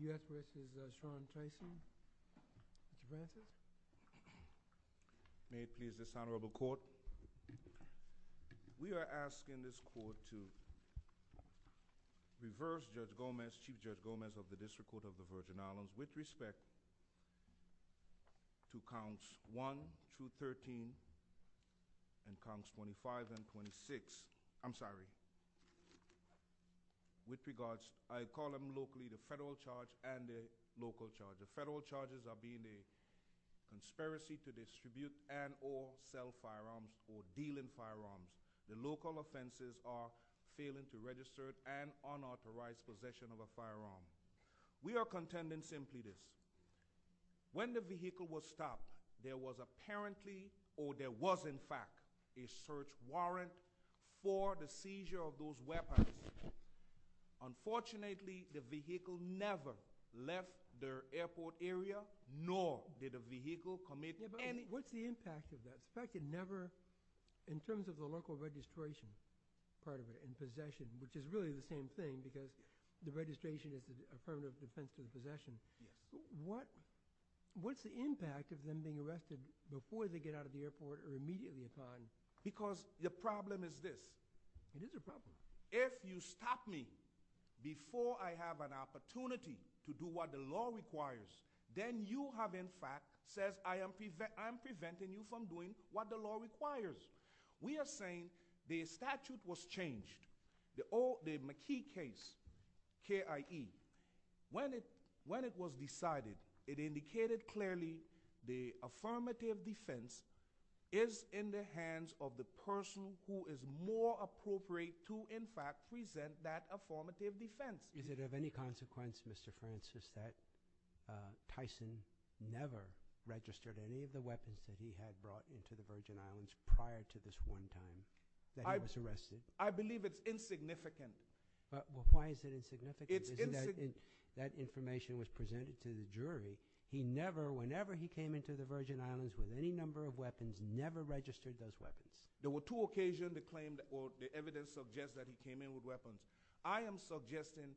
May it please this honorable court. We are asking this court to reverse Judge Gomez, Chief Judge Gomez of the District Court of the Virgin Islands with respect to counts 1 through 13 and counts 25 and 26, I'm sorry, with regards, I call them locally the federal charge and the local charge. The federal charges are being a conspiracy to distribute and or sell firearms or deal in firearms. The local offenses are failing to register and unauthorized possession of a firearm. We are contending simply this, when the vehicle was stopped there was apparently or there was in fact a search warrant for the seizure of those weapons. Unfortunately the vehicle never left the airport area nor did the vehicle commit any. What's the impact of that? In fact it never, in terms of the local registration part of it and possession, which is really the same thing because the registration is affirmative defense in possession, what's the impact of them being arrested before they get out of the airport or immediately upon? Because the problem is this. It is a problem. If you stop me before I have an opportunity to do what the law requires, then you have in fact said I am preventing you from doing what the law requires. We are saying the statute was changed, the McKee case, KIE, when it was decided it indicated clearly the affirmative defense is in the hands of the person who is more appropriate to in fact present that affirmative defense. Is it of any consequence, Mr. Francis, that Tyson never registered any of the weapons that he had brought into the Virgin Islands prior to this one time that he was arrested? I believe it's insignificant. Why is it insignificant? It's insignificant. That information was presented to the jury. He never, whenever he came into the Virgin Islands with any number of weapons, never registered those weapons. There were two occasions that claimed or the evidence suggests that he came in with weapons. I am suggesting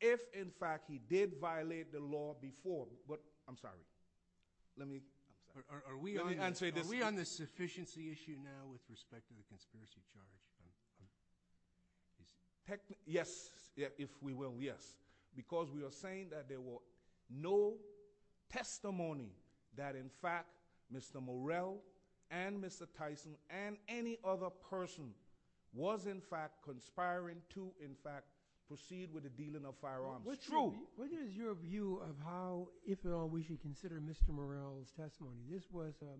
if in fact he did violate the law before, but I'm sorry, let me answer this. Are we on the sufficiency issue now with respect to the conspiracy charge? Yes, if we will, yes. Because we are saying that there were no testimony that in fact Mr. Morrell and Mr. Tyson and any other person was in fact conspiring to in fact proceed with the dealing of firearms. It's true. What is your view of how, if at all, we should consider Mr. Morrell's testimony? This was a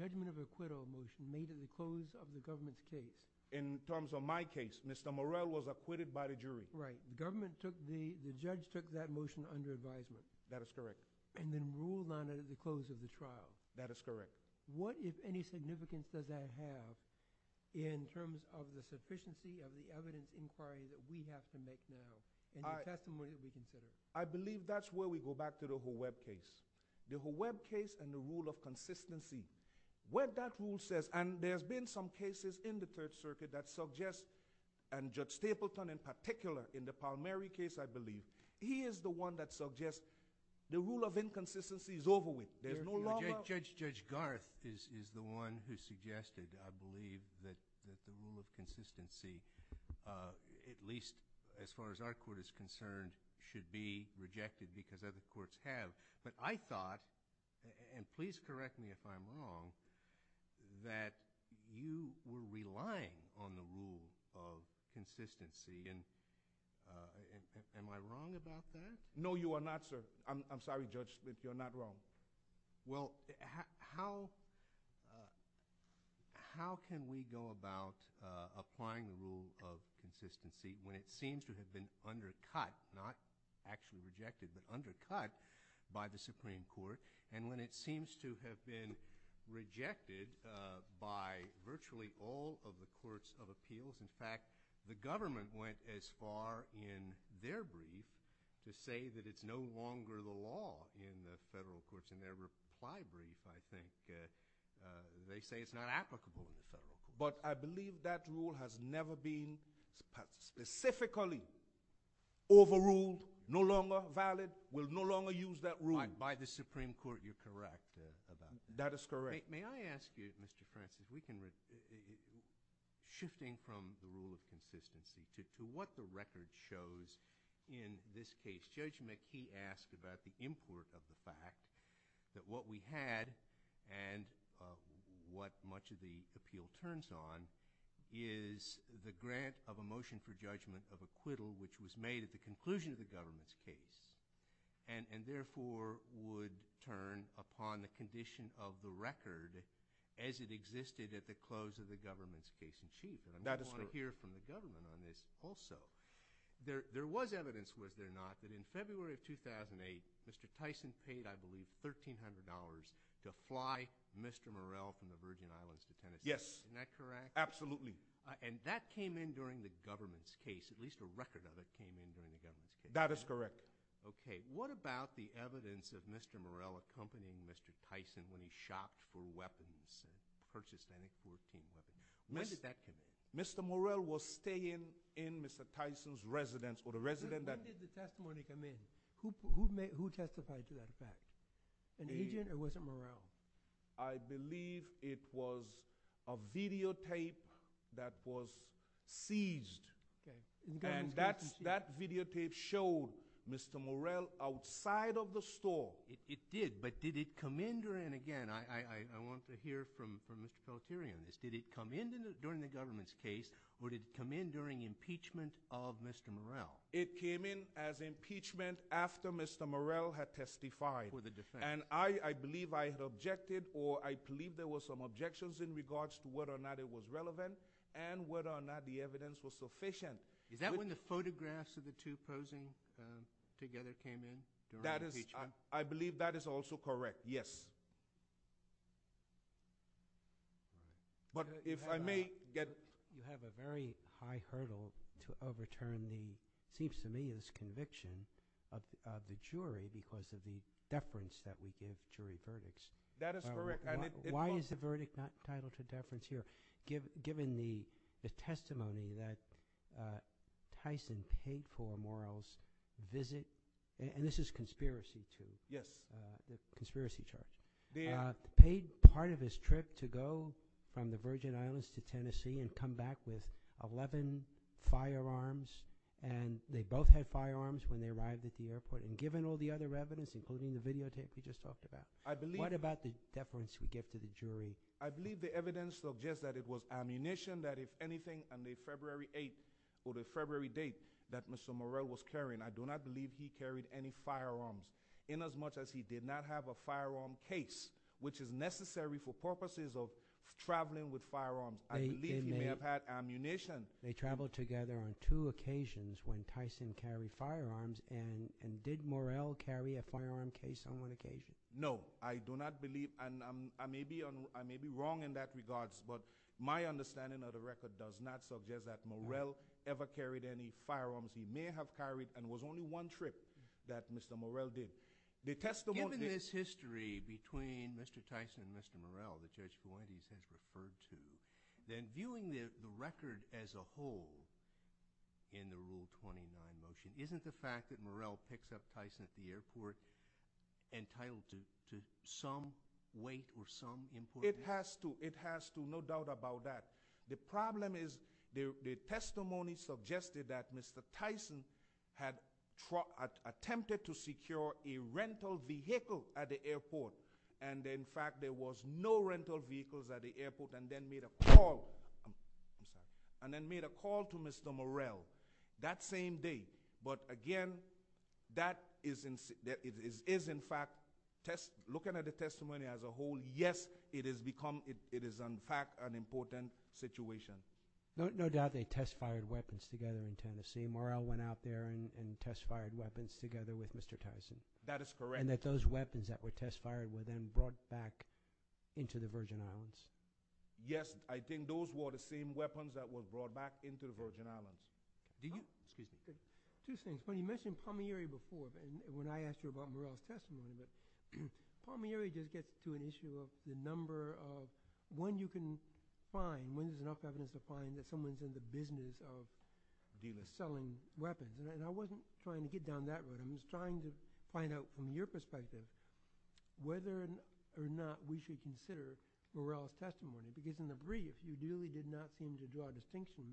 judgment of acquittal motion made at the close of the government's case. In terms of my case, Mr. Morrell was acquitted by the jury. Right. The government took the, the judge took that motion under advisement. That is correct. And then ruled on it at the close of the trial. That is correct. What, if any, significance does that have in terms of the sufficiency of the evidence inquiry that we have to make now and the testimony that we consider? I believe that's where we go back to the whole Webb case. The whole Webb case and the rule of consistency. What that rule says, and there's been some cases in the Third Circuit that suggest, and Judge Stapleton in particular, in the Palmieri case I believe, he is the one that suggests the rule of inconsistency is over with. There's no longer- Judge, Judge Garth is, is the one who suggested, I believe, that, that the rule of consistency at least as far as our court is concerned should be rejected because other courts have. But I thought, and please correct me if I'm wrong, that you were relying on the rule of consistency and am I wrong about that? No, you are not, sir. I'm, I'm sorry, Judge. You're not wrong. Well, how, how can we go about applying the rule of consistency when it seems to have been undercut, not actually rejected, but undercut by the Supreme Court and when it seems to have been rejected by virtually all of the courts of appeals? In fact, the government went as far in their brief to say that it's no longer the law in the federal courts. In their reply brief, I think, they say it's not applicable in the federal courts. But I believe that rule has never been specifically overruled, no longer valid, will no longer use that rule. By, by the Supreme Court, you're correct about that. That is correct. May, may I ask you, Mr. Francis, we can, shifting from the rule of consistency to, to what the government has said, the fact that what we had and what much of the appeal turns on is the grant of a motion for judgment of acquittal which was made at the conclusion of the government's case and, and therefore would turn upon the condition of the record as it existed at the close of the government's case in chief. That is correct. And I want to hear from the government on this also. There, there was evidence, was there not, that in February of 2008, Mr. Tyson paid, I believe, $1,300 to fly Mr. Morell from the Virgin Islands to Tennessee. Yes. Isn't that correct? Absolutely. And that came in during the government's case, at least a record of it came in during the government's case. That is correct. Okay. What about the evidence of Mr. Morell accompanying Mr. Tyson when he shopped for weapons and purchased NX-14 weapons? When did that come in? Mr. Morell was staying in Mr. Tyson's residence or the residence that When did the testimony come in? Who, who made, who testified to that fact? An agent or was it Morell? I believe it was a videotape that was seized. Okay. And that, that videotape showed Mr. Morell outside of the store. It, it did. But did it come in during, again, I, I, I want to hear from, from Mr. Feltieri on this. Did it come in during the government's case or did it come in during impeachment of Mr. Morell? It came in as impeachment after Mr. Morell had testified. For the defense. And I, I believe I had objected or I believe there were some objections in regards to whether or not it was relevant and whether or not the evidence was sufficient. Is that when the photographs of the two posing together came in? That is, I believe that is also correct. Yes. But if I may get. You have a very high hurdle to overturn the, seems to me, is conviction of, of the jury because of the deference that we give jury verdicts. That is correct. And it, it. Why is the verdict not titled to deference here? Give, given the, the testimony that Tyson paid for Morell's visit. And this is conspiracy too. Yes. The conspiracy charge. The. Paid part of his trip to go from the Virgin Islands to Tennessee and come back with 11 firearms. And they both had firearms when they arrived at the airport. And given all the other evidence, including the videotape you just talked about. I believe. What about the deference we give to the jury? I believe the evidence suggests that it was ammunition, that if anything, on the February 8th or the February date that Mr. Morell was carrying, I do not believe he carried any firearms in as much as he did not have a firearm case, which is necessary for purposes of traveling with firearms. I believe he may have had ammunition. They traveled together on two occasions when Tyson carried firearms. And, and did Morell carry a firearm case on one occasion? No, I do not believe. And I'm, I may be on, I may be wrong in that regards. But my understanding of the record does not suggest that Morell ever carried any firearms. He may have carried and was only one trip that Mr. Morell did. The testimony. Given this history between Mr. Tyson and Mr. Morell, the Judge Duane, he says referred to, then viewing the record as a whole in the Rule 29 motion, isn't the fact that Morell picks up Tyson at the airport entitled to some weight or some importance? It has to. It has to. No doubt about that. The problem is the testimony suggested that Mr. Tyson had attempted to secure a rental vehicle at the airport. And in fact, there was no rental vehicles at the airport and then made a call. I'm sorry. And then made a call to Mr. Morell that same day. But again, that is in fact, looking at the testimony as a whole, yes, it is in fact an important situation. No doubt they test-fired weapons together in Tennessee. Morell went out there and test-fired weapons together with Mr. Tyson. That is correct. And that those weapons that were test-fired were then brought back into the Virgin Islands. Yes. I think those were the same weapons that were brought back into the Virgin Islands. Excuse me. Two things. When you mentioned Palmieri before, when I asked you about Morell's testimony, Palmieri just gets to an issue of the number of – when you can find, when there's enough evidence to find that someone's in the business of selling weapons. And I wasn't trying to get down that road. I'm just trying to find out from your perspective whether or not we should consider Morell's testimony. Because in the brief, you really did not seem to draw a distinction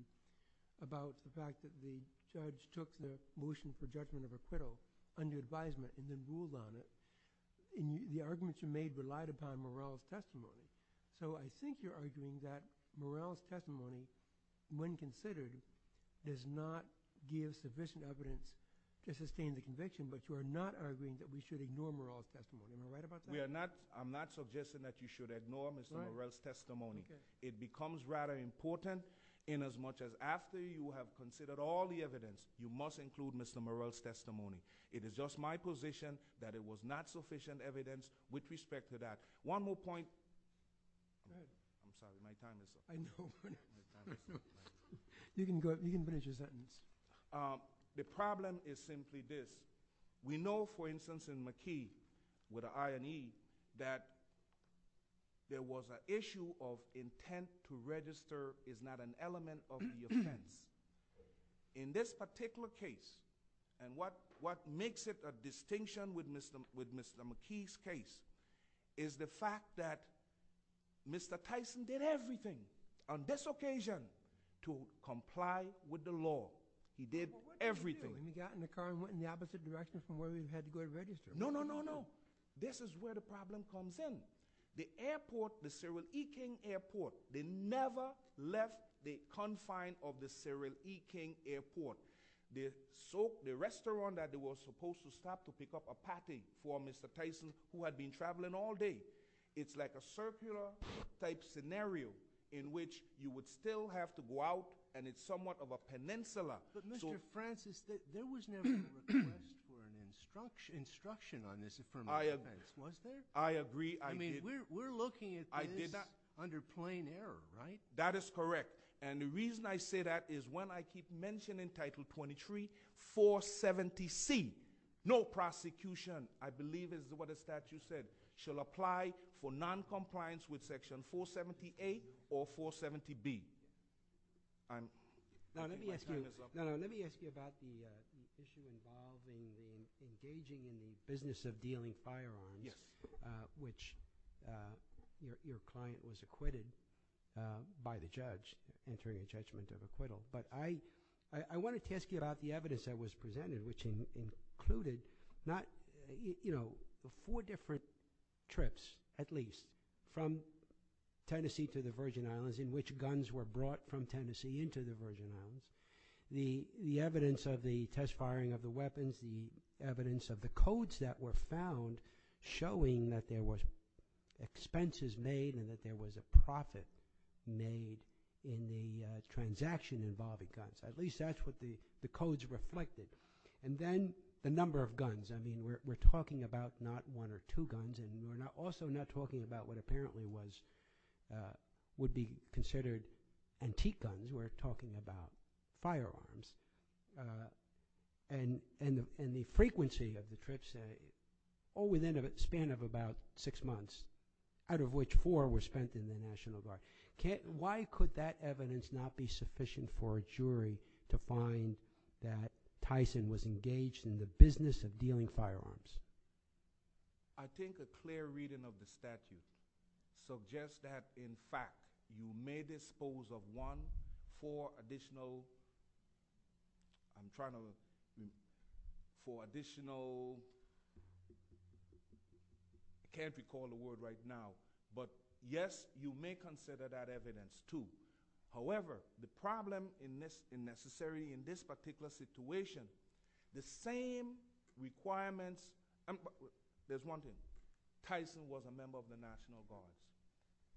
about the fact that the judge took the motion for judgment of acquittal under advisement and then ruled on it. And the arguments you made relied upon Morell's testimony. So I think you're arguing that Morell's testimony, when considered, does not give sufficient evidence to sustain the conviction, but you are not arguing that we should ignore Morell's testimony. Am I right about that? I'm not suggesting that you should ignore Mr. Morell's testimony. It becomes rather important inasmuch as after you have considered all the evidence, you must include Mr. Morell's testimony. It is just my position that it was not sufficient evidence with respect to that. One more point. Go ahead. I'm sorry, my time is up. I know. My time is up. You can go, you can finish your sentence. The problem is simply this. We know, for instance, in McKee, with an I and E, that there was an issue of intent to register is not an element of the offense. In this particular case, and what makes it a distinction with Mr. McKee's case, is the fact that Mr. Tyson did everything on this occasion to comply with the law. He did everything. But what did he do? He got in the car and went in the opposite direction from where we had to go to register. No, no, no, no. This is where the problem comes in. The airport, the Cyril E. King Airport, they never left the confine of the Cyril E. King Airport. The restaurant that they were supposed to stop to pick up a patty for Mr. Tyson, who had been traveling all day. It's like a circular type scenario in which you would still have to go out, and it's somewhat of a peninsula. But Mr. Francis, there was never a request for an instruction on this affirmative offense, was there? I agree. We're looking at this under plain error, right? That is correct. And the reason I say that is when I keep mentioning Title 23, 470C, no prosecution, I believe is what the statute said, shall apply for noncompliance with Section 470A or 470B. Now let me ask you about the issue involving engaging in the business of dealing firearms. Yes. Which your client was acquitted by the judge, entering a judgment of acquittal. But I wanted to ask you about the evidence that was presented, which included four different trips, at least, from Tennessee to the Virgin Islands, in which guns were brought from Tennessee into the Virgin Islands. The evidence of the test firing of the weapons, as well as the evidence of the codes that were found showing that there was expenses made and that there was a profit made in the transaction involving guns. At least that's what the codes reflected. And then the number of guns. I mean, we're talking about not one or two guns, and we're also not talking about what apparently would be considered antique guns. We're talking about firearms. And the frequency of the trips, all within a span of about six months, out of which four were spent in the National Guard. Why could that evidence not be sufficient for a jury to find that Tyson was engaged in the business of dealing firearms? I think a clear reading of the statute suggests that, in fact, you may dispose of one for additional... I'm trying to... for additional... I can't recall the word right now. But, yes, you may consider that evidence, too. However, the problem in this particular situation, the same requirements... There's one thing. Tyson was a member of the National Guard.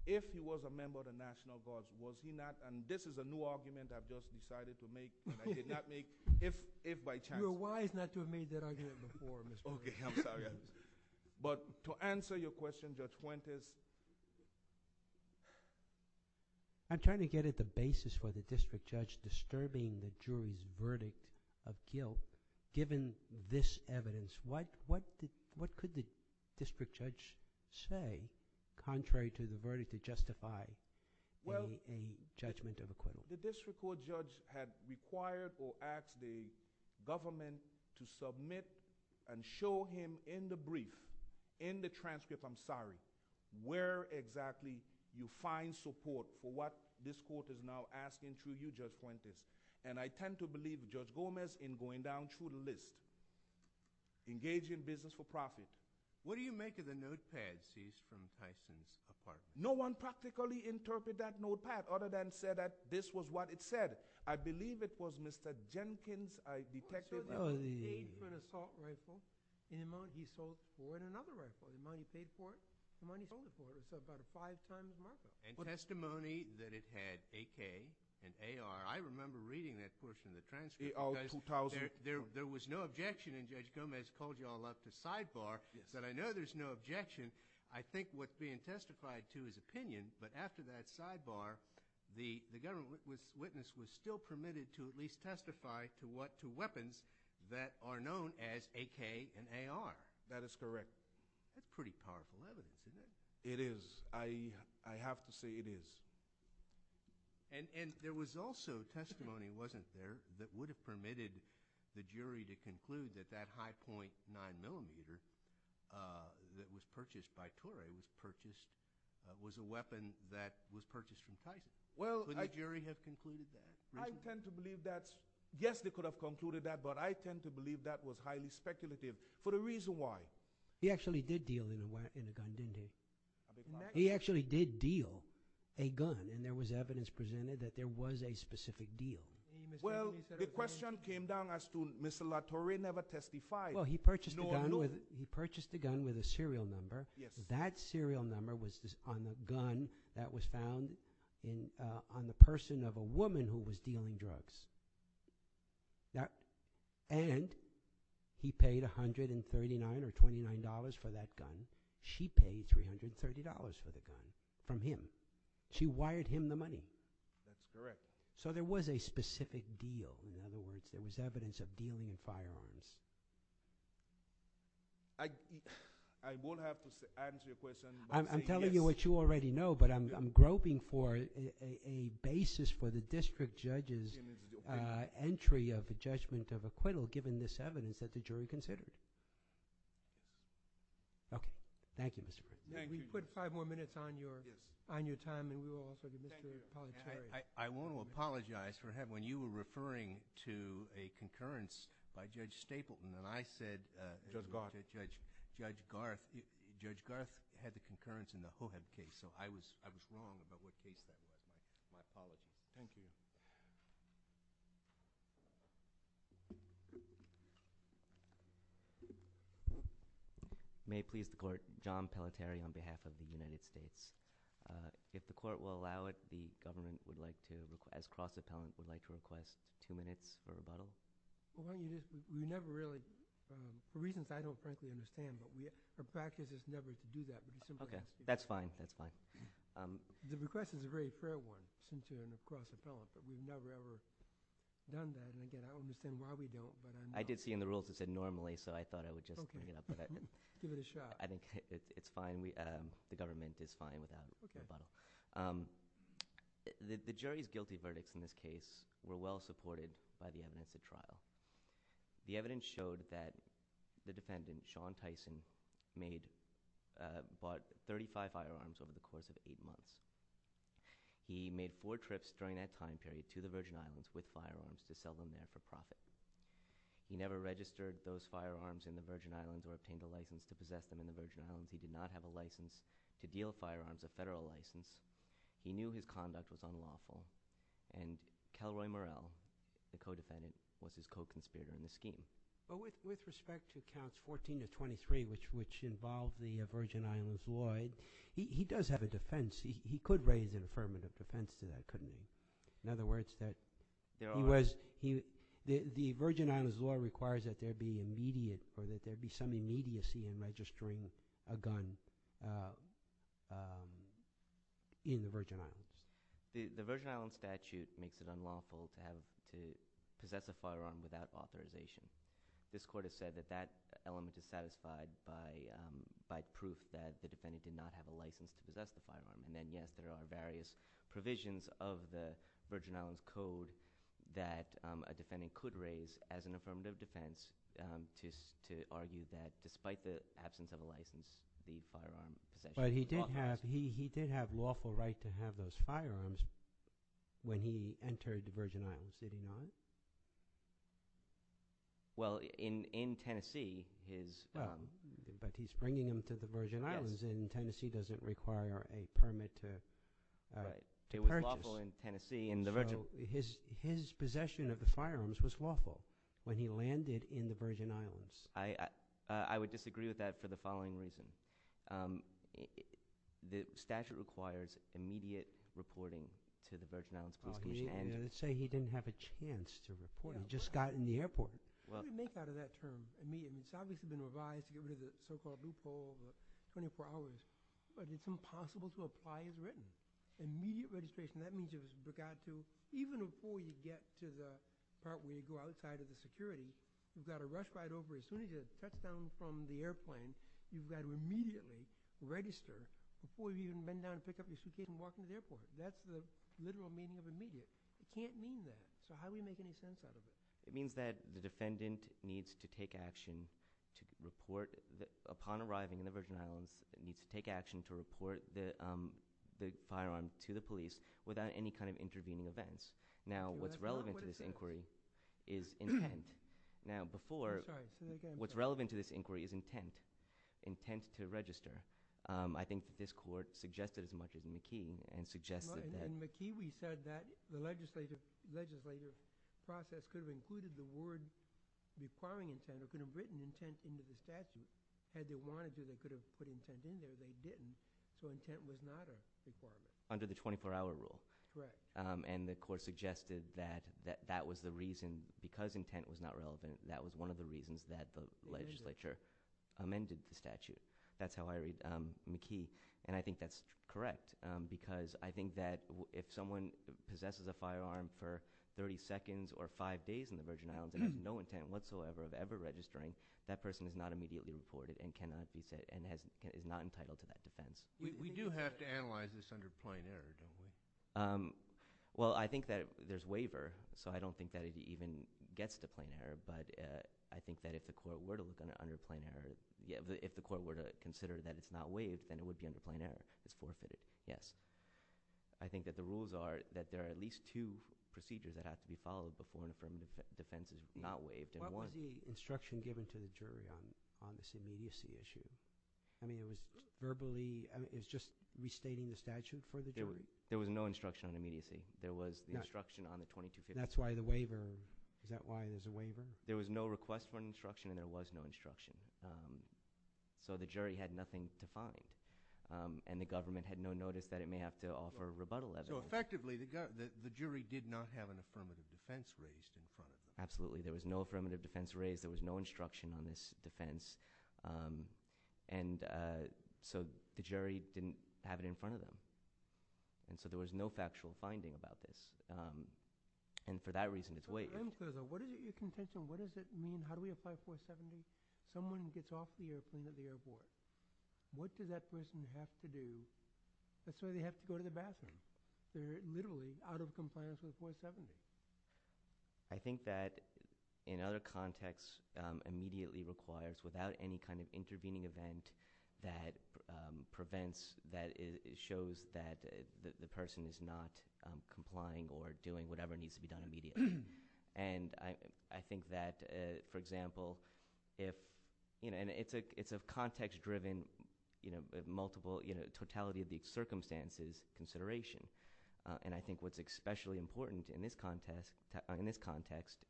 If he was a member of the National Guard, was he not? And this is a new argument I've just decided to make and I did not make. If by chance... You were wise not to have made that argument before, Mr. Williams. Okay, I'm sorry. But to answer your question, Judge Fuentes... I'm trying to get at the basis for the district judge disturbing the jury's verdict of guilt given this evidence. What could the district judge say contrary to the verdict to justify a judgment of acquittal? The district court judge had required or asked the government to submit and show him in the brief, in the transcript, I'm sorry, where exactly you find support for what this court is now asking through you, Judge Fuentes. And I tend to believe Judge Gomez in going down through the list, engaging business for profit. What do you make of the notepad seized from Tyson's apartment? No one practically interpreted that notepad other than to say that this was what it said. I believe it was Mr. Jenkins, I detect it. He paid for an assault rifle in the amount he sold for another rifle. The amount he paid for it, the amount he sold it for it. It's about five times the market price. And testimony that it had AK and AR, I remember reading that portion of the transcript because there was no objection and Judge Gomez called you all up to sidebar and said, I know there's no objection. I think what's being testified to is opinion, but after that sidebar the government witness was still permitted to at least testify to weapons that are known as AK and AR. That is correct. That's pretty powerful evidence, isn't it? It is. I have to say it is. And there was also testimony wasn't there that would have permitted the jury to conclude that that high point 9mm that was purchased by Tore was a weapon that was purchased from Titan. Would the jury have concluded that? I tend to believe that yes they could have concluded that but I tend to believe that was highly speculative for the reason why. He actually did deal in a gun, didn't he? He actually did deal a gun and there was evidence presented that there was a specific deal. Well, the question came down as to Mr. LaTore never testified Well, he purchased a gun with a serial number that serial number was on a gun that was found on the person of a woman who was dealing drugs and he paid $139 or $29 for that gun she paid $330 for the gun from him she wired him the money. That's correct. So there was a specific deal in other words there was evidence of dealing in firearms. I I won't have to answer your question I'm telling you what you already know but I'm groping for a basis for the district judge's entry of the judgment of acquittal given this evidence that the jury considered. Okay. Thank you, Mr. President. We put 5 more minutes on your on your time I want to apologize for when you were referring to a concurrence by Judge Stapleton and I said Judge Garth Judge Garth had the concurrence in the Hohab case so I was wrong about what case that was. Thank you. May it please the court, John Palateri on behalf of the United States if the court will allow it the government would like to request cross appellant would like to request 2 minutes for rebuttal We never really for reasons I don't frankly understand our practice is never to do that That's fine. The request is a very fair one since you're a cross appellant but we've never ever done that I don't understand why we don't I did see in the rules it said normally so I thought I would just bring it up Give it a shot The government is fine without rebuttal The jury's guilty verdicts in this case were well supported by the evidence of trial The evidence showed that the defendant Sean Tyson bought 35 firearms over the course of 8 months He made 4 trips during that time period to the Virgin Islands with firearms to sell them there for profit He never registered those firearms in the Virgin Islands or obtained a license to possess them in the Virgin Islands He did not have a license to deal firearms a federal license He knew his conduct was unlawful Calroy Morrell the co-defendant was his co-conspirator in the scheme With respect to counts 14-23 which involved the Virgin Islands law He does have a defense He could raise an affirmative defense to that, couldn't he? In other words The Virgin Islands law requires that there be some immediacy in registering a gun in the Virgin Islands The Virgin Islands statute makes it unlawful to possess a firearm without authorization This court has said that that element is satisfied by proof that the defendant did not have a license to possess the firearm Yes, there are various provisions of the Virgin Islands Code that a defendant could raise as an affirmative defense to argue that despite the absence of a license the firearm possession is unlawful He did have lawful right to have those firearms when he entered the Virgin Islands Did he not? Well, in Tennessee But he's bringing them to the Virgin Islands The Virgin Islands in Tennessee doesn't require a permit to purchase His possession of the firearms was lawful when he landed in the Virgin Islands I would disagree with that for the following reason The statute requires immediate reporting to the Virgin Islands Police Commission Let's say he didn't have a chance to report, he just got in the airport What do we make out of that term? It's obviously been revised to get rid of the so-called loophole 24 hours, but it's impossible to apply as written Immediate registration Even before you get to the part where you go outside of the security You've got to rush right over As soon as you touch down from the airplane You've got to immediately register before you even bend down and pick up your suitcase and walk into the airport That's the literal meaning of immediate It can't mean that So how do we make any sense out of it? It means that the defendant needs to take action to report upon arriving in the Virgin Islands needs to take action to report the firearm to the police without any kind of intervening events Now what's relevant to this inquiry is intent Now before, what's relevant to this inquiry is intent intent to register I think this court suggested as much as McKee and suggested that When McKee said that the legislative process could have included the word requiring intent or could have written intent into the statute, had they wanted to they could have put intent in there they didn't, so intent was not a requirement Under the 24 hour rule And the court suggested that that was the reason, because intent was not relevant, that was one of the reasons that the legislature amended the statute That's how I read McKee And I think that's correct Because I think that if someone possesses a firearm for 30 seconds or 5 days in the Virgin Islands and has no intent whatsoever of ever registering that person is not immediately reported and is not entitled to that defense We do have to analyze this under plain error Well I think that there's waiver, so I don't think that it even gets to plain error But I think that if the court were to look under plain error If the court were to consider that it's not waived then it would be under plain error It's forfeited, yes I think that the rules are that there are at least two procedures that have to be followed before an affirmed defense is not waived What was the instruction given to the jury on this immediacy issue I mean it was verbally it's just restating the statute for the jury? There was no instruction on immediacy There was the instruction on the 2250 That's why the waiver, is that why there's a waiver? There was no request for an instruction and there was no instruction So the jury had nothing to find and the government had no notice that it may have to offer a rebuttal So effectively the jury did not have an affirmative defense raised Absolutely, there was no affirmative defense raised, there was no instruction on this defense and so the jury didn't have it in front of them and so there was no factual finding about this and for that reason it's waived What does it mean how do we apply 470 someone gets off the airplane at the airport what does that person have to do that's why they have to go to the bathroom they're literally out of compliance with 470 I think that in other contexts immediately requires, without any kind of intervening event that prevents that shows that the person is not complying or and I think that for example it's a context driven you know totality of the circumstances consideration and I think what's especially important in this context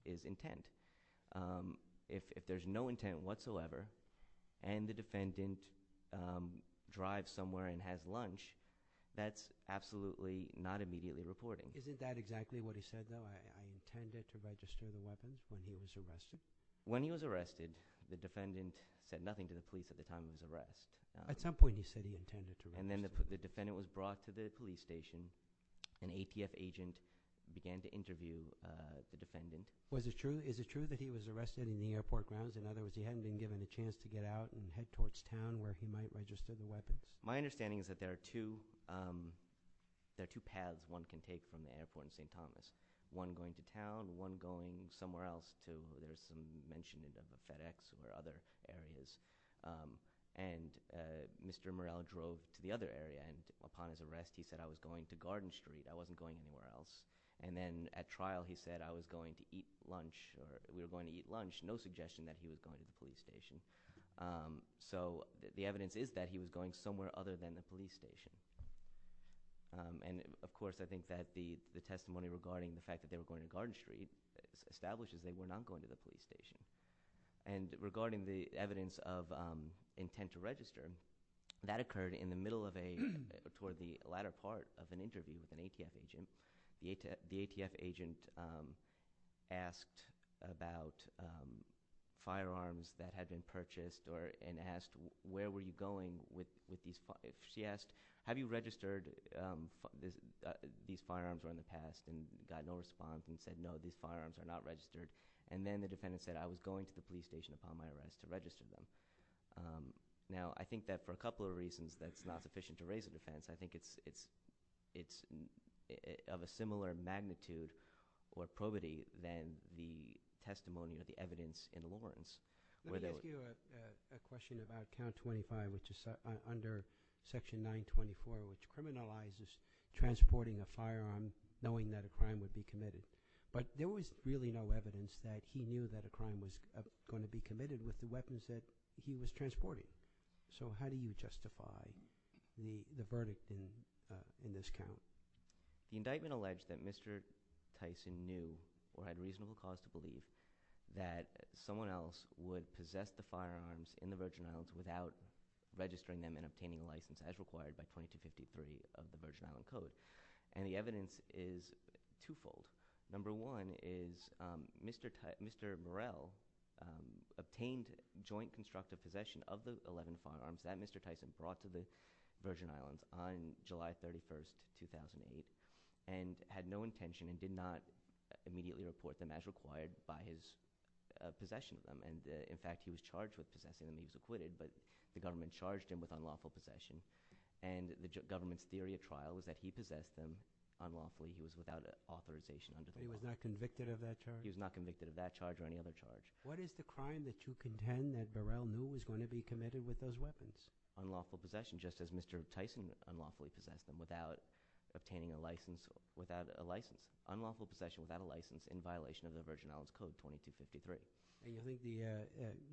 is intent if there's no intent whatsoever and the defendant drives somewhere and has lunch that's absolutely not immediately reporting Isn't that exactly what he said though I intended to register the weapons when he was arrested When he was arrested the defendant said nothing to the police at the time of his arrest At some point he said he intended to And then the defendant was brought to the police station an ATF agent began to interview the defendant Was it true, is it true that he was arrested in the airport grounds in other words he hadn't been given a chance to get out and head towards town where he might register the weapons My understanding is that there are two There are two paths one can take from the airport in St. Thomas One going to town, one going somewhere else to where there's some mention of a FedEx or other areas and Mr. Morell drove to the other area and upon his arrest he said I was going to Garden Street, I wasn't going anywhere else and then at trial he said I was going to eat lunch or we were going to eat lunch no suggestion that he was going to the police station So the evidence is that he was going somewhere other than the police station and of course I think that the testimony regarding the fact that they were going to Garden Street establishes that they were not going to the police station and regarding the evidence of intent to register that occurred in the middle of a toward the latter part of an interview with an ATF agent the ATF agent asked about firearms that had been purchased and asked where were you going with these she asked have you registered these firearms were in the past and got no response and said no these firearms are not registered and then the defendant said I was going to the police station upon my arrest to register them now I think that for a couple of reasons that's not sufficient to raise a defense I think it's of a similar magnitude or probity than the testimony or the evidence in Lawrence let me ask you a question about count 25 which is under section 924 which criminalizes transporting a firearm knowing that a crime would be committed but there was really no evidence that he knew that a crime was going to be committed with the weapons that he was transporting so how do you justify the verdict in this count the indictment alleged that Mr. Tyson knew or had reasonable cause to believe that someone else would possess the firearms in the Virgin Islands without registering them and obtaining a license as required by 2253 of the Virgin Island Code and the evidence is two-fold number one is Mr. Murrell obtained joint constructive possession of the 11 firearms that Mr. Tyson brought to the Virgin Islands on July 31st 2008 and had no intention and did not immediately report them as required by his possession of them in fact he was charged with possessing them he was acquitted but the government charged him with unlawful possession and the government's theory of trial was that he possessed them unlawfully he was without authorization he was not convicted of that charge he was not convicted of that charge or any other charge what is the crime that you contend that Burrell knew was going to be committed with those weapons unlawful possession just as Mr. Tyson unlawfully possessed them without obtaining a license unlawful possession without a license in violation of the Virgin Islands Code 2253 Do you think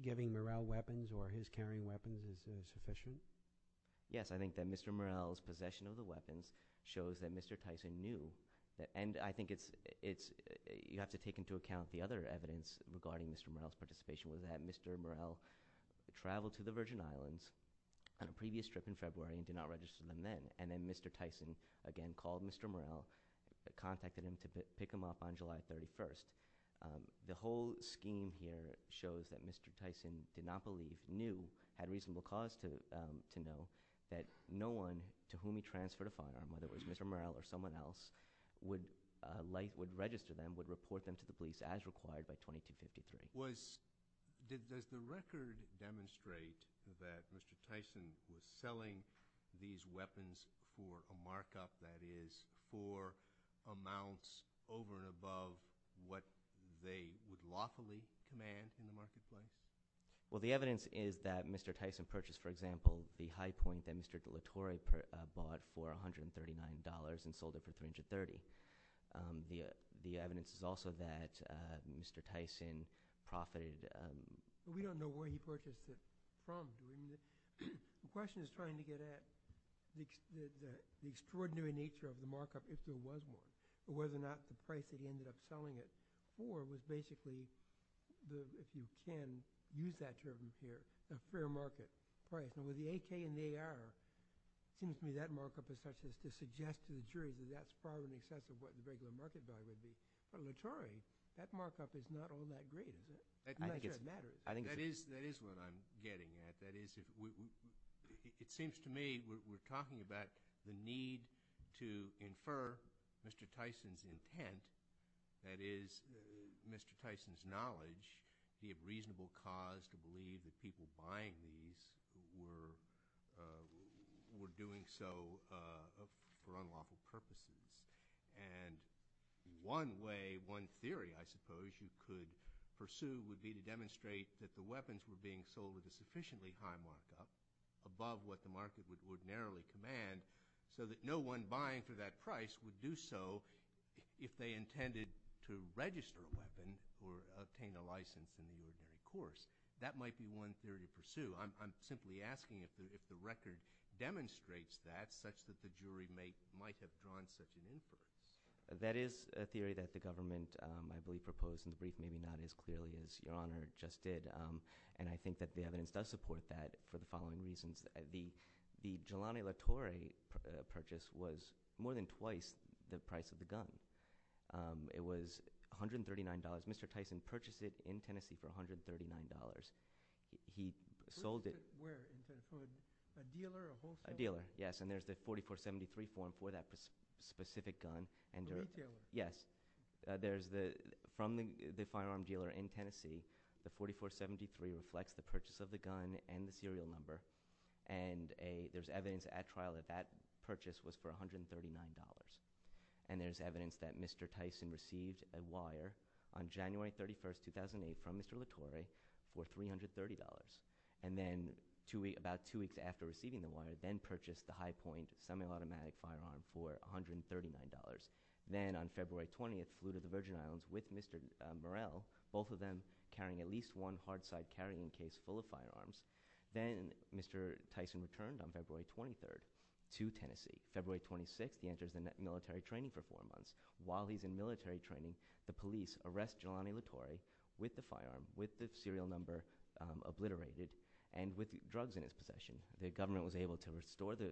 giving Murrell weapons or his carrying weapons is sufficient? Yes I think that Mr. Murrell's possession of the weapons shows that Mr. Tyson knew and I think it's you have to take into account the other evidence regarding Mr. Murrell's participation was that Mr. Murrell traveled to the Virgin Islands on a previous trip in February and did not register them then and then Mr. Tyson again called Mr. Murrell contacted him to pick him up on July 31st the whole scheme here shows that Mr. Tyson did not believe, knew had reasonable cause to know that no one to whom he transferred a firearm whether it was Mr. Murrell or someone else would register them, would report them to the police as required by 2253 Does the record demonstrate that Mr. Tyson was selling these weapons for a markup that is for amounts over and above what they would lawfully command from the marketplace? Well the evidence is that Mr. Tyson purchased for example the high point that Mr. DeLatorre bought for $139 and sold it for $330 The evidence is also that Mr. Tyson profited We don't know where he purchased it from The question is trying to get at the extraordinary nature of the markup if there was one or whether or not the price that he ended up selling it for was basically if you can use that term here a fair market price and with the AK and the AR it seems to me that markup is such as to suggest to the jury that that's probably in excess of what the regular market value would be but Latorre, that markup is not all that great I'm not sure it matters That is what I'm getting at that is it seems to me we're talking about the need to infer Mr. Tyson's intent that is Mr. Tyson's knowledge the reasonable cause to believe that people buying these were doing so for unlawful purposes and one way one theory I suppose you could pursue would be to demonstrate that the weapons were being sold with a sufficiently high markup above what the market would narrowly command so that no one buying for that price would do so if they intended to register a weapon or obtain a license in the near term course that might be one theory to pursue I'm simply asking if the record demonstrates that such that the jury might have drawn such an inference That is a theory that the government I believe proposed in brief maybe not as clearly as your honor just did and I think that the evidence does support that for the following reasons The Jelani Latorre purchase was more than twice the price of the gun It was $139 Mr. Tyson purchased it in Tennessee for $139 He sold it A dealer? Yes and there's the 4473 form for that specific gun Yes From the firearm dealer in Tennessee the 4473 reflects the purchase of the gun and the serial number and there's evidence at trial that that purchase was for $139 and there's evidence that Mr. Tyson received a wire on January 31, 2008 from Mr. Latorre for $330 and then about two weeks after receiving the wire then purchased the high point semi-automatic firearm for $139 then on February 20th flew to the Virgin Islands with Mr. Murrell both of them carrying at least one hard side carrying case full of firearms then Mr. Tyson returned on February 23rd to Tennessee February 26th he enters the military training for 4 months while he's in military training the police arrest Jelani Latorre with the firearm with the serial number obliterated and with drugs in his possession the government was able to restore the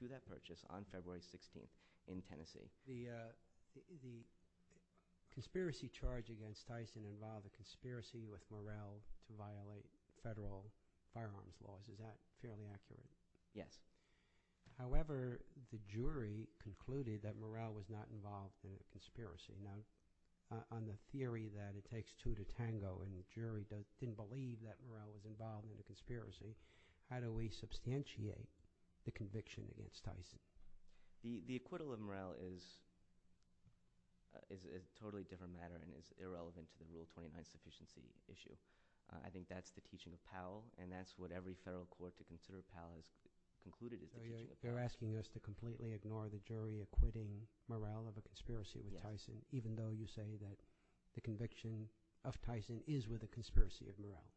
to that purchase on February 16th in Tennessee The conspiracy charge against Tyson involved a conspiracy with Murrell to violate federal firearms laws is that fairly accurate? Yes However the jury concluded that Murrell was not involved in the conspiracy now on the theory that it takes two to tango and the jury didn't believe that Murrell was involved in the conspiracy How do we substantiate the conviction against Tyson? The acquittal of Murrell is is a totally different matter and is irrelevant to the Rule 29 sufficiency issue I think that's the teaching of Powell and that's what every federal court to consider Powell has concluded They're asking us to completely ignore the jury acquitting Murrell of a conspiracy with Tyson even though you say that the conviction of Tyson is with a conspiracy of Murrell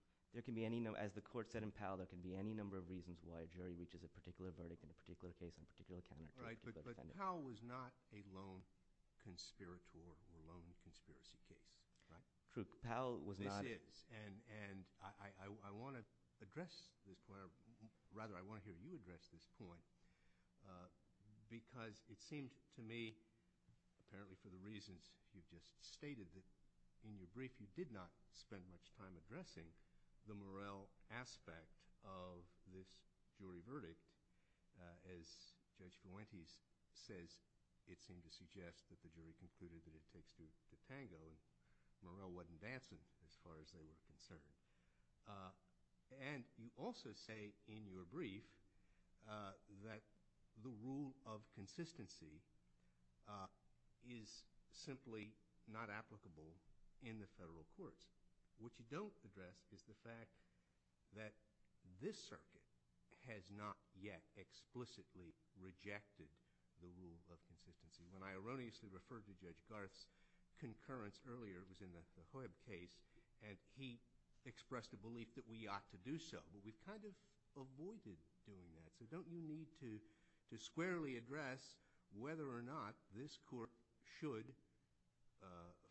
As the court said in Powell there can be any number of reasons why a jury reaches a particular verdict in a particular case But Powell was not a lone conspirator or a lone conspiracy case This is and I want to address this rather I want to hear you address this point because it seems to me apparently for the reasons you just stated in your brief you did not spend much time addressing the Murrell aspect of this jury verdict as Judge Guante says it seems to suggest that the jury concluded that it takes the tango and Murrell wasn't dancing as far as they were concerned and you also say in your brief that the Rule of Consistency is simply not applicable in the federal courts what you don't address is the fact that this circuit has not yet explicitly rejected the Rule of Consistency when I erroneously referred to Judge Garth's concurrence earlier was in the Hoib case and he expressed a belief that we ought to do so but we kind of avoided doing that so don't you need to squarely address whether or not this court should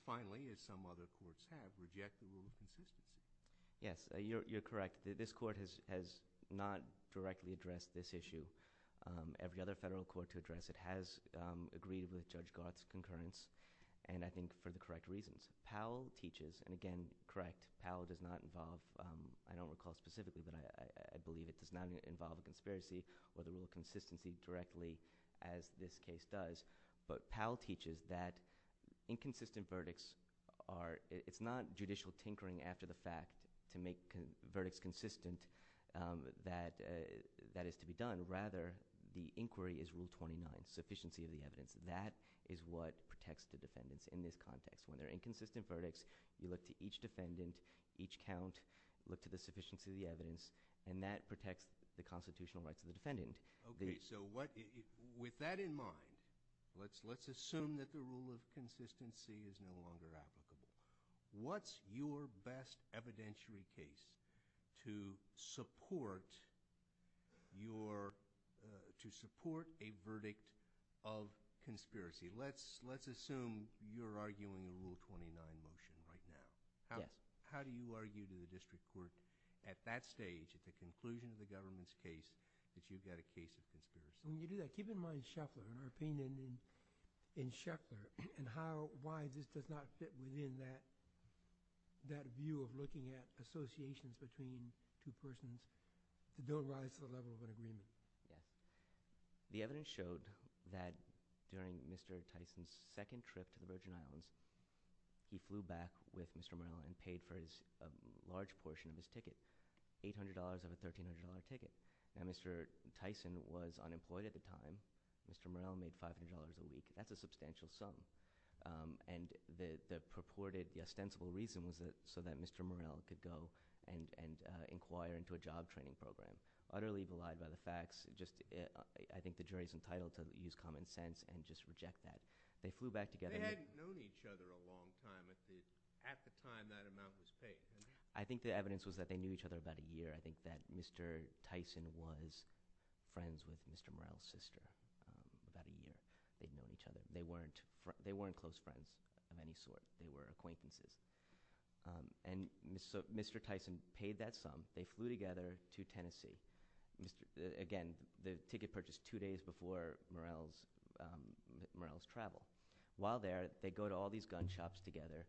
finally as some other courts have reject the Rule of Consistency yes you're correct this court has not directly addressed this issue every other federal court to address it has agreed with Judge Garth's concurrence and I think for the correct reasons Powell teaches and again correct Powell does not involve I don't recall specifically but I believe it does not involve a conspiracy or the Rule of Consistency directly as this case does but Powell teaches that inconsistent verdicts are it's not judicial tinkering after the fact to make verdicts consistent that that is to be done rather the inquiry is Rule 29 sufficiency of the evidence that is what protects the defendants in this context when there are inconsistent verdicts you look to look to the sufficiency of the evidence and that protects the constitutional rights of the defendant okay so what with that in mind let's assume that the Rule of Consistency is no longer applicable what's your best evidentiary case to support your to support a verdict of conspiracy let's assume you're arguing the Rule 29 motion right now how do you argue to the district court at that stage at the conclusion of the government's case that you've got a case of conspiracy when you do that keep in mind Scheffler and our opinion in Scheffler and how why this does not fit within that that view of looking at associations between two persons to build rise to the level of an agreement the evidence showed that during Mr. Tyson's second trip to the Virgin Islands he flew back with Mr. Murrow and paid for a large portion of his ticket $800 of a $1300 ticket now Mr. Tyson was unemployed at the time Mr. Murrow made $500 a week that's a substantial sum and the purported ostensible reason was so that Mr. Murrow could go and inquire into a job training program utterly belied by the facts just I think the jury is entitled to use common sense and just reject that they flew back together they hadn't known each other a long time at the time that amount was paid I think the evidence was that they knew each other about a year I think that Mr. Tyson was friends with Mr. Murrow's sister they weren't close friends of any sort they were acquaintances and Mr. Tyson paid that sum they flew together to Tennessee again the ticket purchased two days before Murrow's travel while there they go to all these gun shops together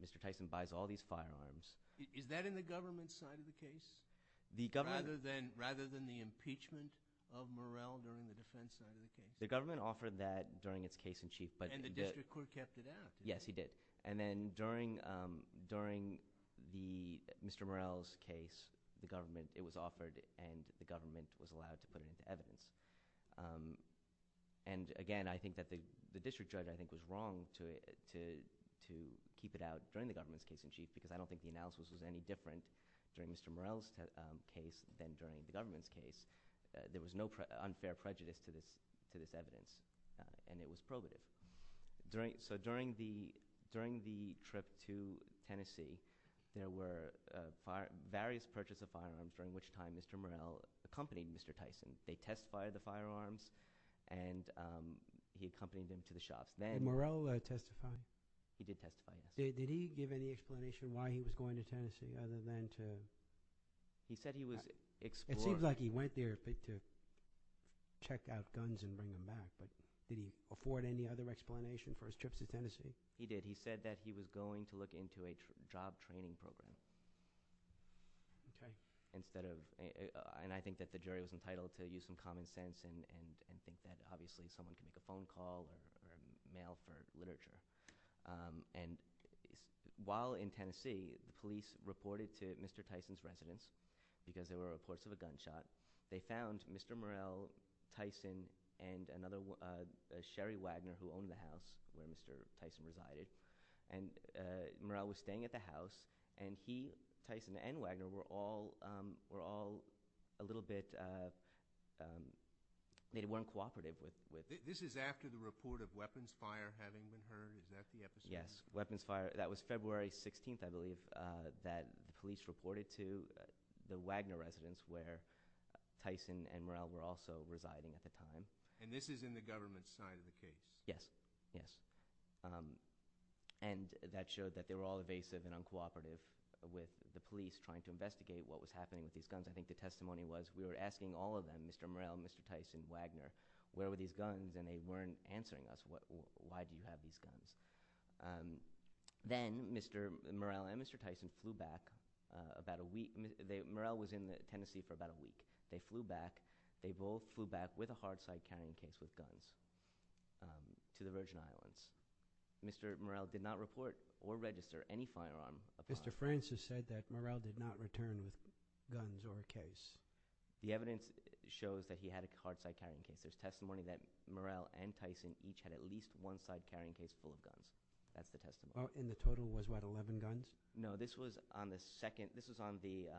Mr. Tyson buys all these firearms is that in the government's side of the case rather than the impeachment of Murrow during the defense side of the case the government offered that during its case in chief and the district court kept it out yes he did and then during during the Mr. Murrow's case the government it was offered and the government was allowed to put it into evidence and again I think that the district judge I think was wrong to keep it out during the government's case in chief because I don't think the analysis was any different during Mr. Murrow's case than during the government's case there was no unfair prejudice to this evidence and it was probative during the trip to Tennessee there were various purchases of firearms during which time Mr. Murrow accompanied Mr. Tyson they testified the firearms and he accompanied them to the shops did Murrow testify he did testify did he give any explanation why he was going to Tennessee other than to it seems like he went there to check out guns and bring them back did he afford any other explanation for his trips to Tennessee he did he said that he was going to look into a job training program instead of and I think the jury was entitled to use some common sense and think that obviously someone can make a phone call or mail for literature and while in Tennessee police reported to Mr. Tyson's residence because there were reports of a gunshot they found Mr. Murrow Tyson and another Sherry Wagner who owned the house where Mr. Tyson resided and Murrow was staying at the house and he Tyson and Wagner were all were all a little bit they weren't cooperative this is after the report of weapons fire having been heard is that the episode yes weapons fire that was February 16th I believe that police reported to the Wagner residence where Tyson and Murrow were also residing at the time and this is in the government side of the case yes and that showed that they were all evasive and uncooperative with the police trying to investigate what was happening with these guns I think the testimony was we were asking all of them Mr. Murrow, Mr. Tyson, Wagner where were these guns and they weren't answering us why do you have these guns then Mr. Murrow and Mr. Tyson flew back about a week Murrow was in Tennessee for about a week they flew back they both flew back with a hard side carrying case with guns to the Virgin Islands Mr. Murrow did not report or register any firearm Mr. Francis said that Murrow did not return with guns or a case the evidence shows that he had a hard side carrying case there's testimony that Murrow and Tyson each had at least one side carrying case full of guns that's the testimony and the total was what 11 guns no this was on the second this was on the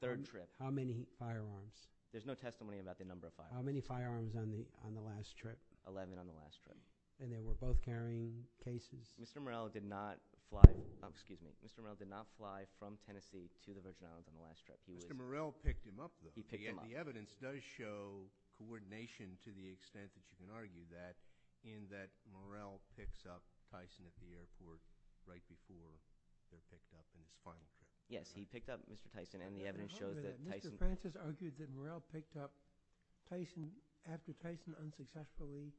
third trip how many firearms there's no testimony about the number of firearms how many firearms on the last trip 11 on the last trip and they were both carrying cases Mr. Murrow did not fly Mr. Murrow did not fly from Tennessee to the Virgin Islands on the last trip Mr. Murrow picked him up though the evidence does show coordination to the extent that you can argue that in that Murrow picks up Tyson at the airport right before they're picked up yes he picked up Mr. Tyson and the evidence shows that Tyson Mr. Francis argued that Murrow picked up after Tyson unsuccessfully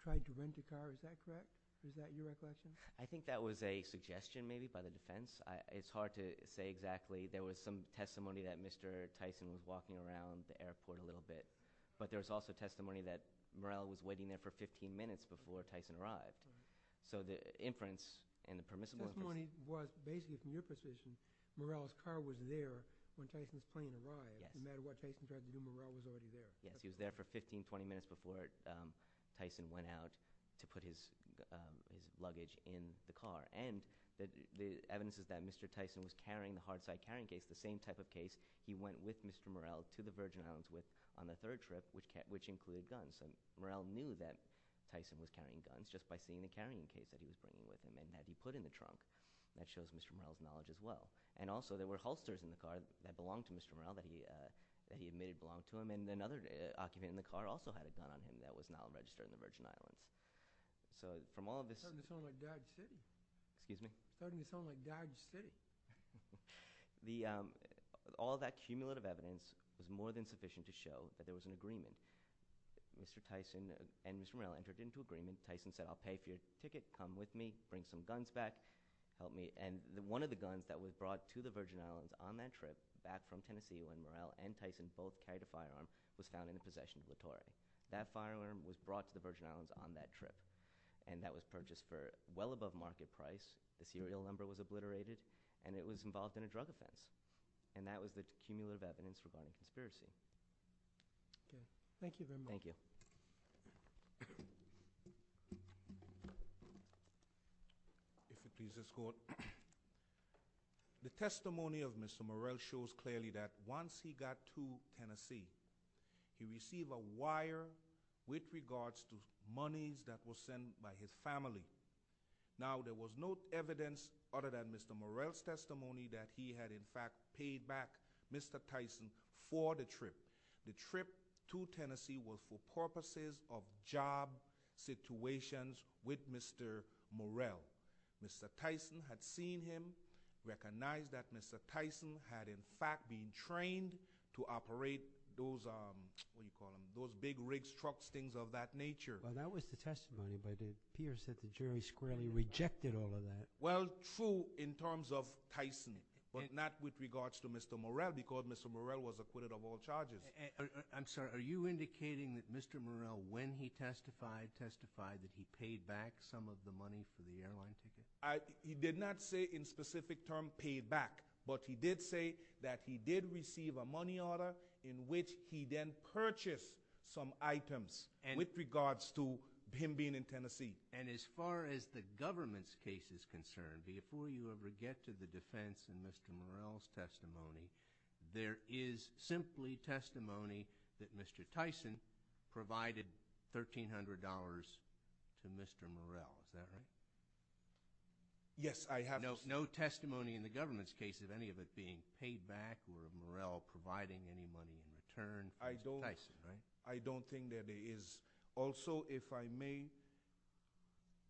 tried to rent a car is that correct? I think that was a suggestion maybe by the defense it's hard to say exactly there was some testimony that Mr. Tyson was walking around the airport a little bit but there was also testimony that Murrow was waiting there for 15 minutes before Tyson arrived so the inference basically from your position Murrow's car was there when Tyson's plane arrived no matter what Tyson tried to do Murrow was already there yes he was there for 15-20 minutes before Tyson went out to put his luggage in the car and the evidence is that Mr. Tyson was carrying the hard side carrying case the same type of case he went with Mr. Murrow to the Virgin Islands with on the third trip which included guns so Murrow knew that Tyson was carrying guns just by seeing the carrying case that he was bringing with him and that he put in the trunk that shows Mr. Murrow's knowledge as well and also there were holsters in the car that belonged to Mr. Murrow that he admitted belonged to him and another occupant in the car also had a gun on him that was not registered in the Virgin Islands so from all of this excuse me all that cumulative evidence is more than sufficient to show that there was an agreement Mr. Tyson and Mr. Murrow entered into an agreement Tyson said I'll pay for your ticket come with me, bring some guns back and one of the guns that was brought to the Virgin Islands on that trip back from Tennessee when Murrow and Tyson both carried a firearm was found in the possession of Vittoria. That firearm was brought to the Virgin Islands on that trip and that was purchased for well above market price the serial number was obliterated and it was involved in a drug offense and that was the cumulative evidence regarding conspiracy Thank you very much The testimony of Mr. Murrow shows clearly that once he got to Tennessee he received a wire with regards to monies that were sent by his family now there was no evidence other than Mr. Murrow's testimony that he had in fact paid back Mr. Tyson for the trip the trip to Tennessee was for purposes of job situations with Mr. Murrow Mr. Tyson had seen him recognize that Mr. Tyson had in fact been trained to operate those what do you call them, those big rigs trucks, things of that nature Well that was the testimony by the peers that the jury squarely rejected all of that Well true in terms of Tyson but not with regards to Mr. Murrow because Mr. Murrow was acquitted of all charges I'm sorry, are you indicating that Mr. Murrow when he testified testified that he paid back some of the money for the airline ticket He did not say in specific terms paid back, but he did say that he did receive a money order in which he then purchased some items with regards to him being in Tennessee and as far as the government's case is concerned before you ever get to the defense in Mr. Murrow's testimony there is simply testimony that Mr. Tyson provided $1300 to Mr. Murrow Is that right? Yes, I have no testimony in the government's case of any of it being paid back or of Murrow providing any money in return I don't think that there is also if I may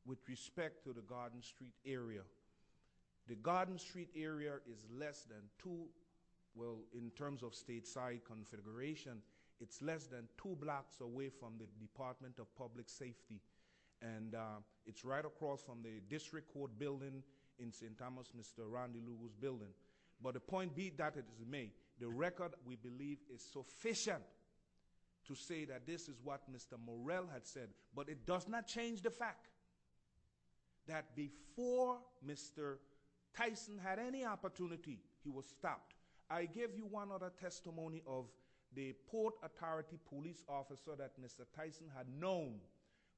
with respect to the Garden Street area the Garden Street area is less than two well, in terms of stateside configuration it's less than two blocks away from the Department of Public Safety and it's right across from the District Court building in St. Thomas Mr. Randy Lewis' building but the point be that is made the record we believe is sufficient to say that this is what Mr. Murrow had said but it does not change the fact that before Mr. Tyson had any opportunity, he was stopped I give you one other testimony of the Port Authority police officer that Mr. Tyson had known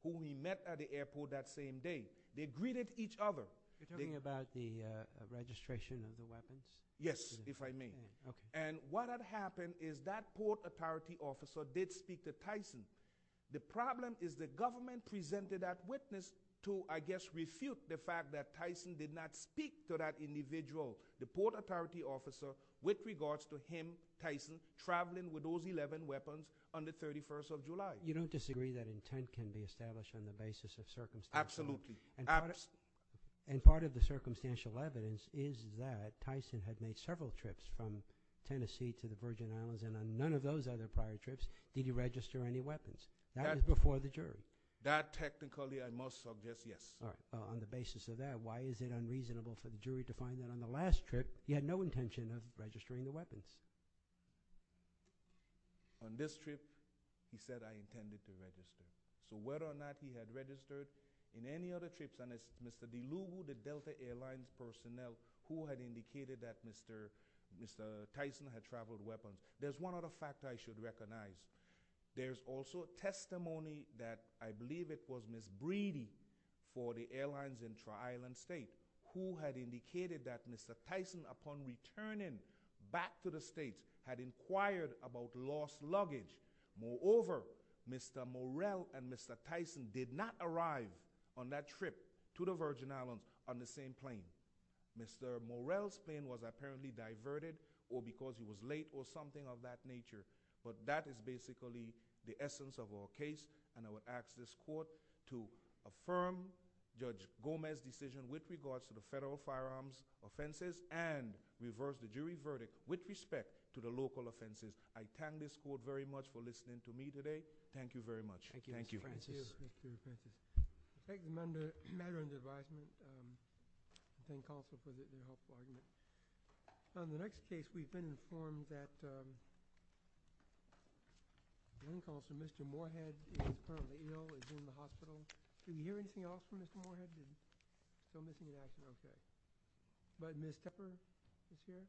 who he met at the airport that same day, they greeted each other You're talking about the registration of the weapons? Yes, if I may and what had happened is that Port Authority officer did speak to Tyson the problem is the government presented that witness to I guess refute the fact that Tyson did not speak to that individual the Port Authority officer with regards to him, Tyson, traveling with those 11 weapons on the 31st of July You don't disagree that intent can be established on the basis of circumstances? Absolutely And part of the circumstantial evidence is that Tyson had made several trips from Tennessee to the Virgin Islands and on none of those other prior trips did he register any weapons? That was before the jury That technically I must suggest, yes On the basis of that, why is it unreasonable for the jury to find that on the last trip he had no intention of registering the weapons? On this trip he said I intended to register So whether or not he had registered in any other trips, and as Mr. Dilugu, the Delta Air Lines personnel who had indicated that Mr. Mr. Tyson had traveled with weapons there's one other fact I should recognize There's also testimony that I believe it was Ms. Breedy for the airlines in Tri-Island State who had indicated that Mr. Tyson upon returning back to the States had inquired about lost luggage Moreover, Mr. Morell and Mr. Tyson did not arrive on that trip to the Virgin Islands on the same plane Mr. Morell's plane was apparently diverted or because he was late or something of that nature But that is basically the essence of our case, and I would ask this court to affirm Judge Gomez's decision with regards to the federal firearms offenses and reverse the jury verdict with respect to the local offenses I thank this court very much for listening to me today. Thank you very much. Thank you. Thank you, Mr. Francis. On the next case we've been informed that Green calls for Mr. Morehead who is currently ill and is in the hospital Do you hear anything else from Mr. Morehead? Don't make any action on that But Ms. Kepper is here Thank you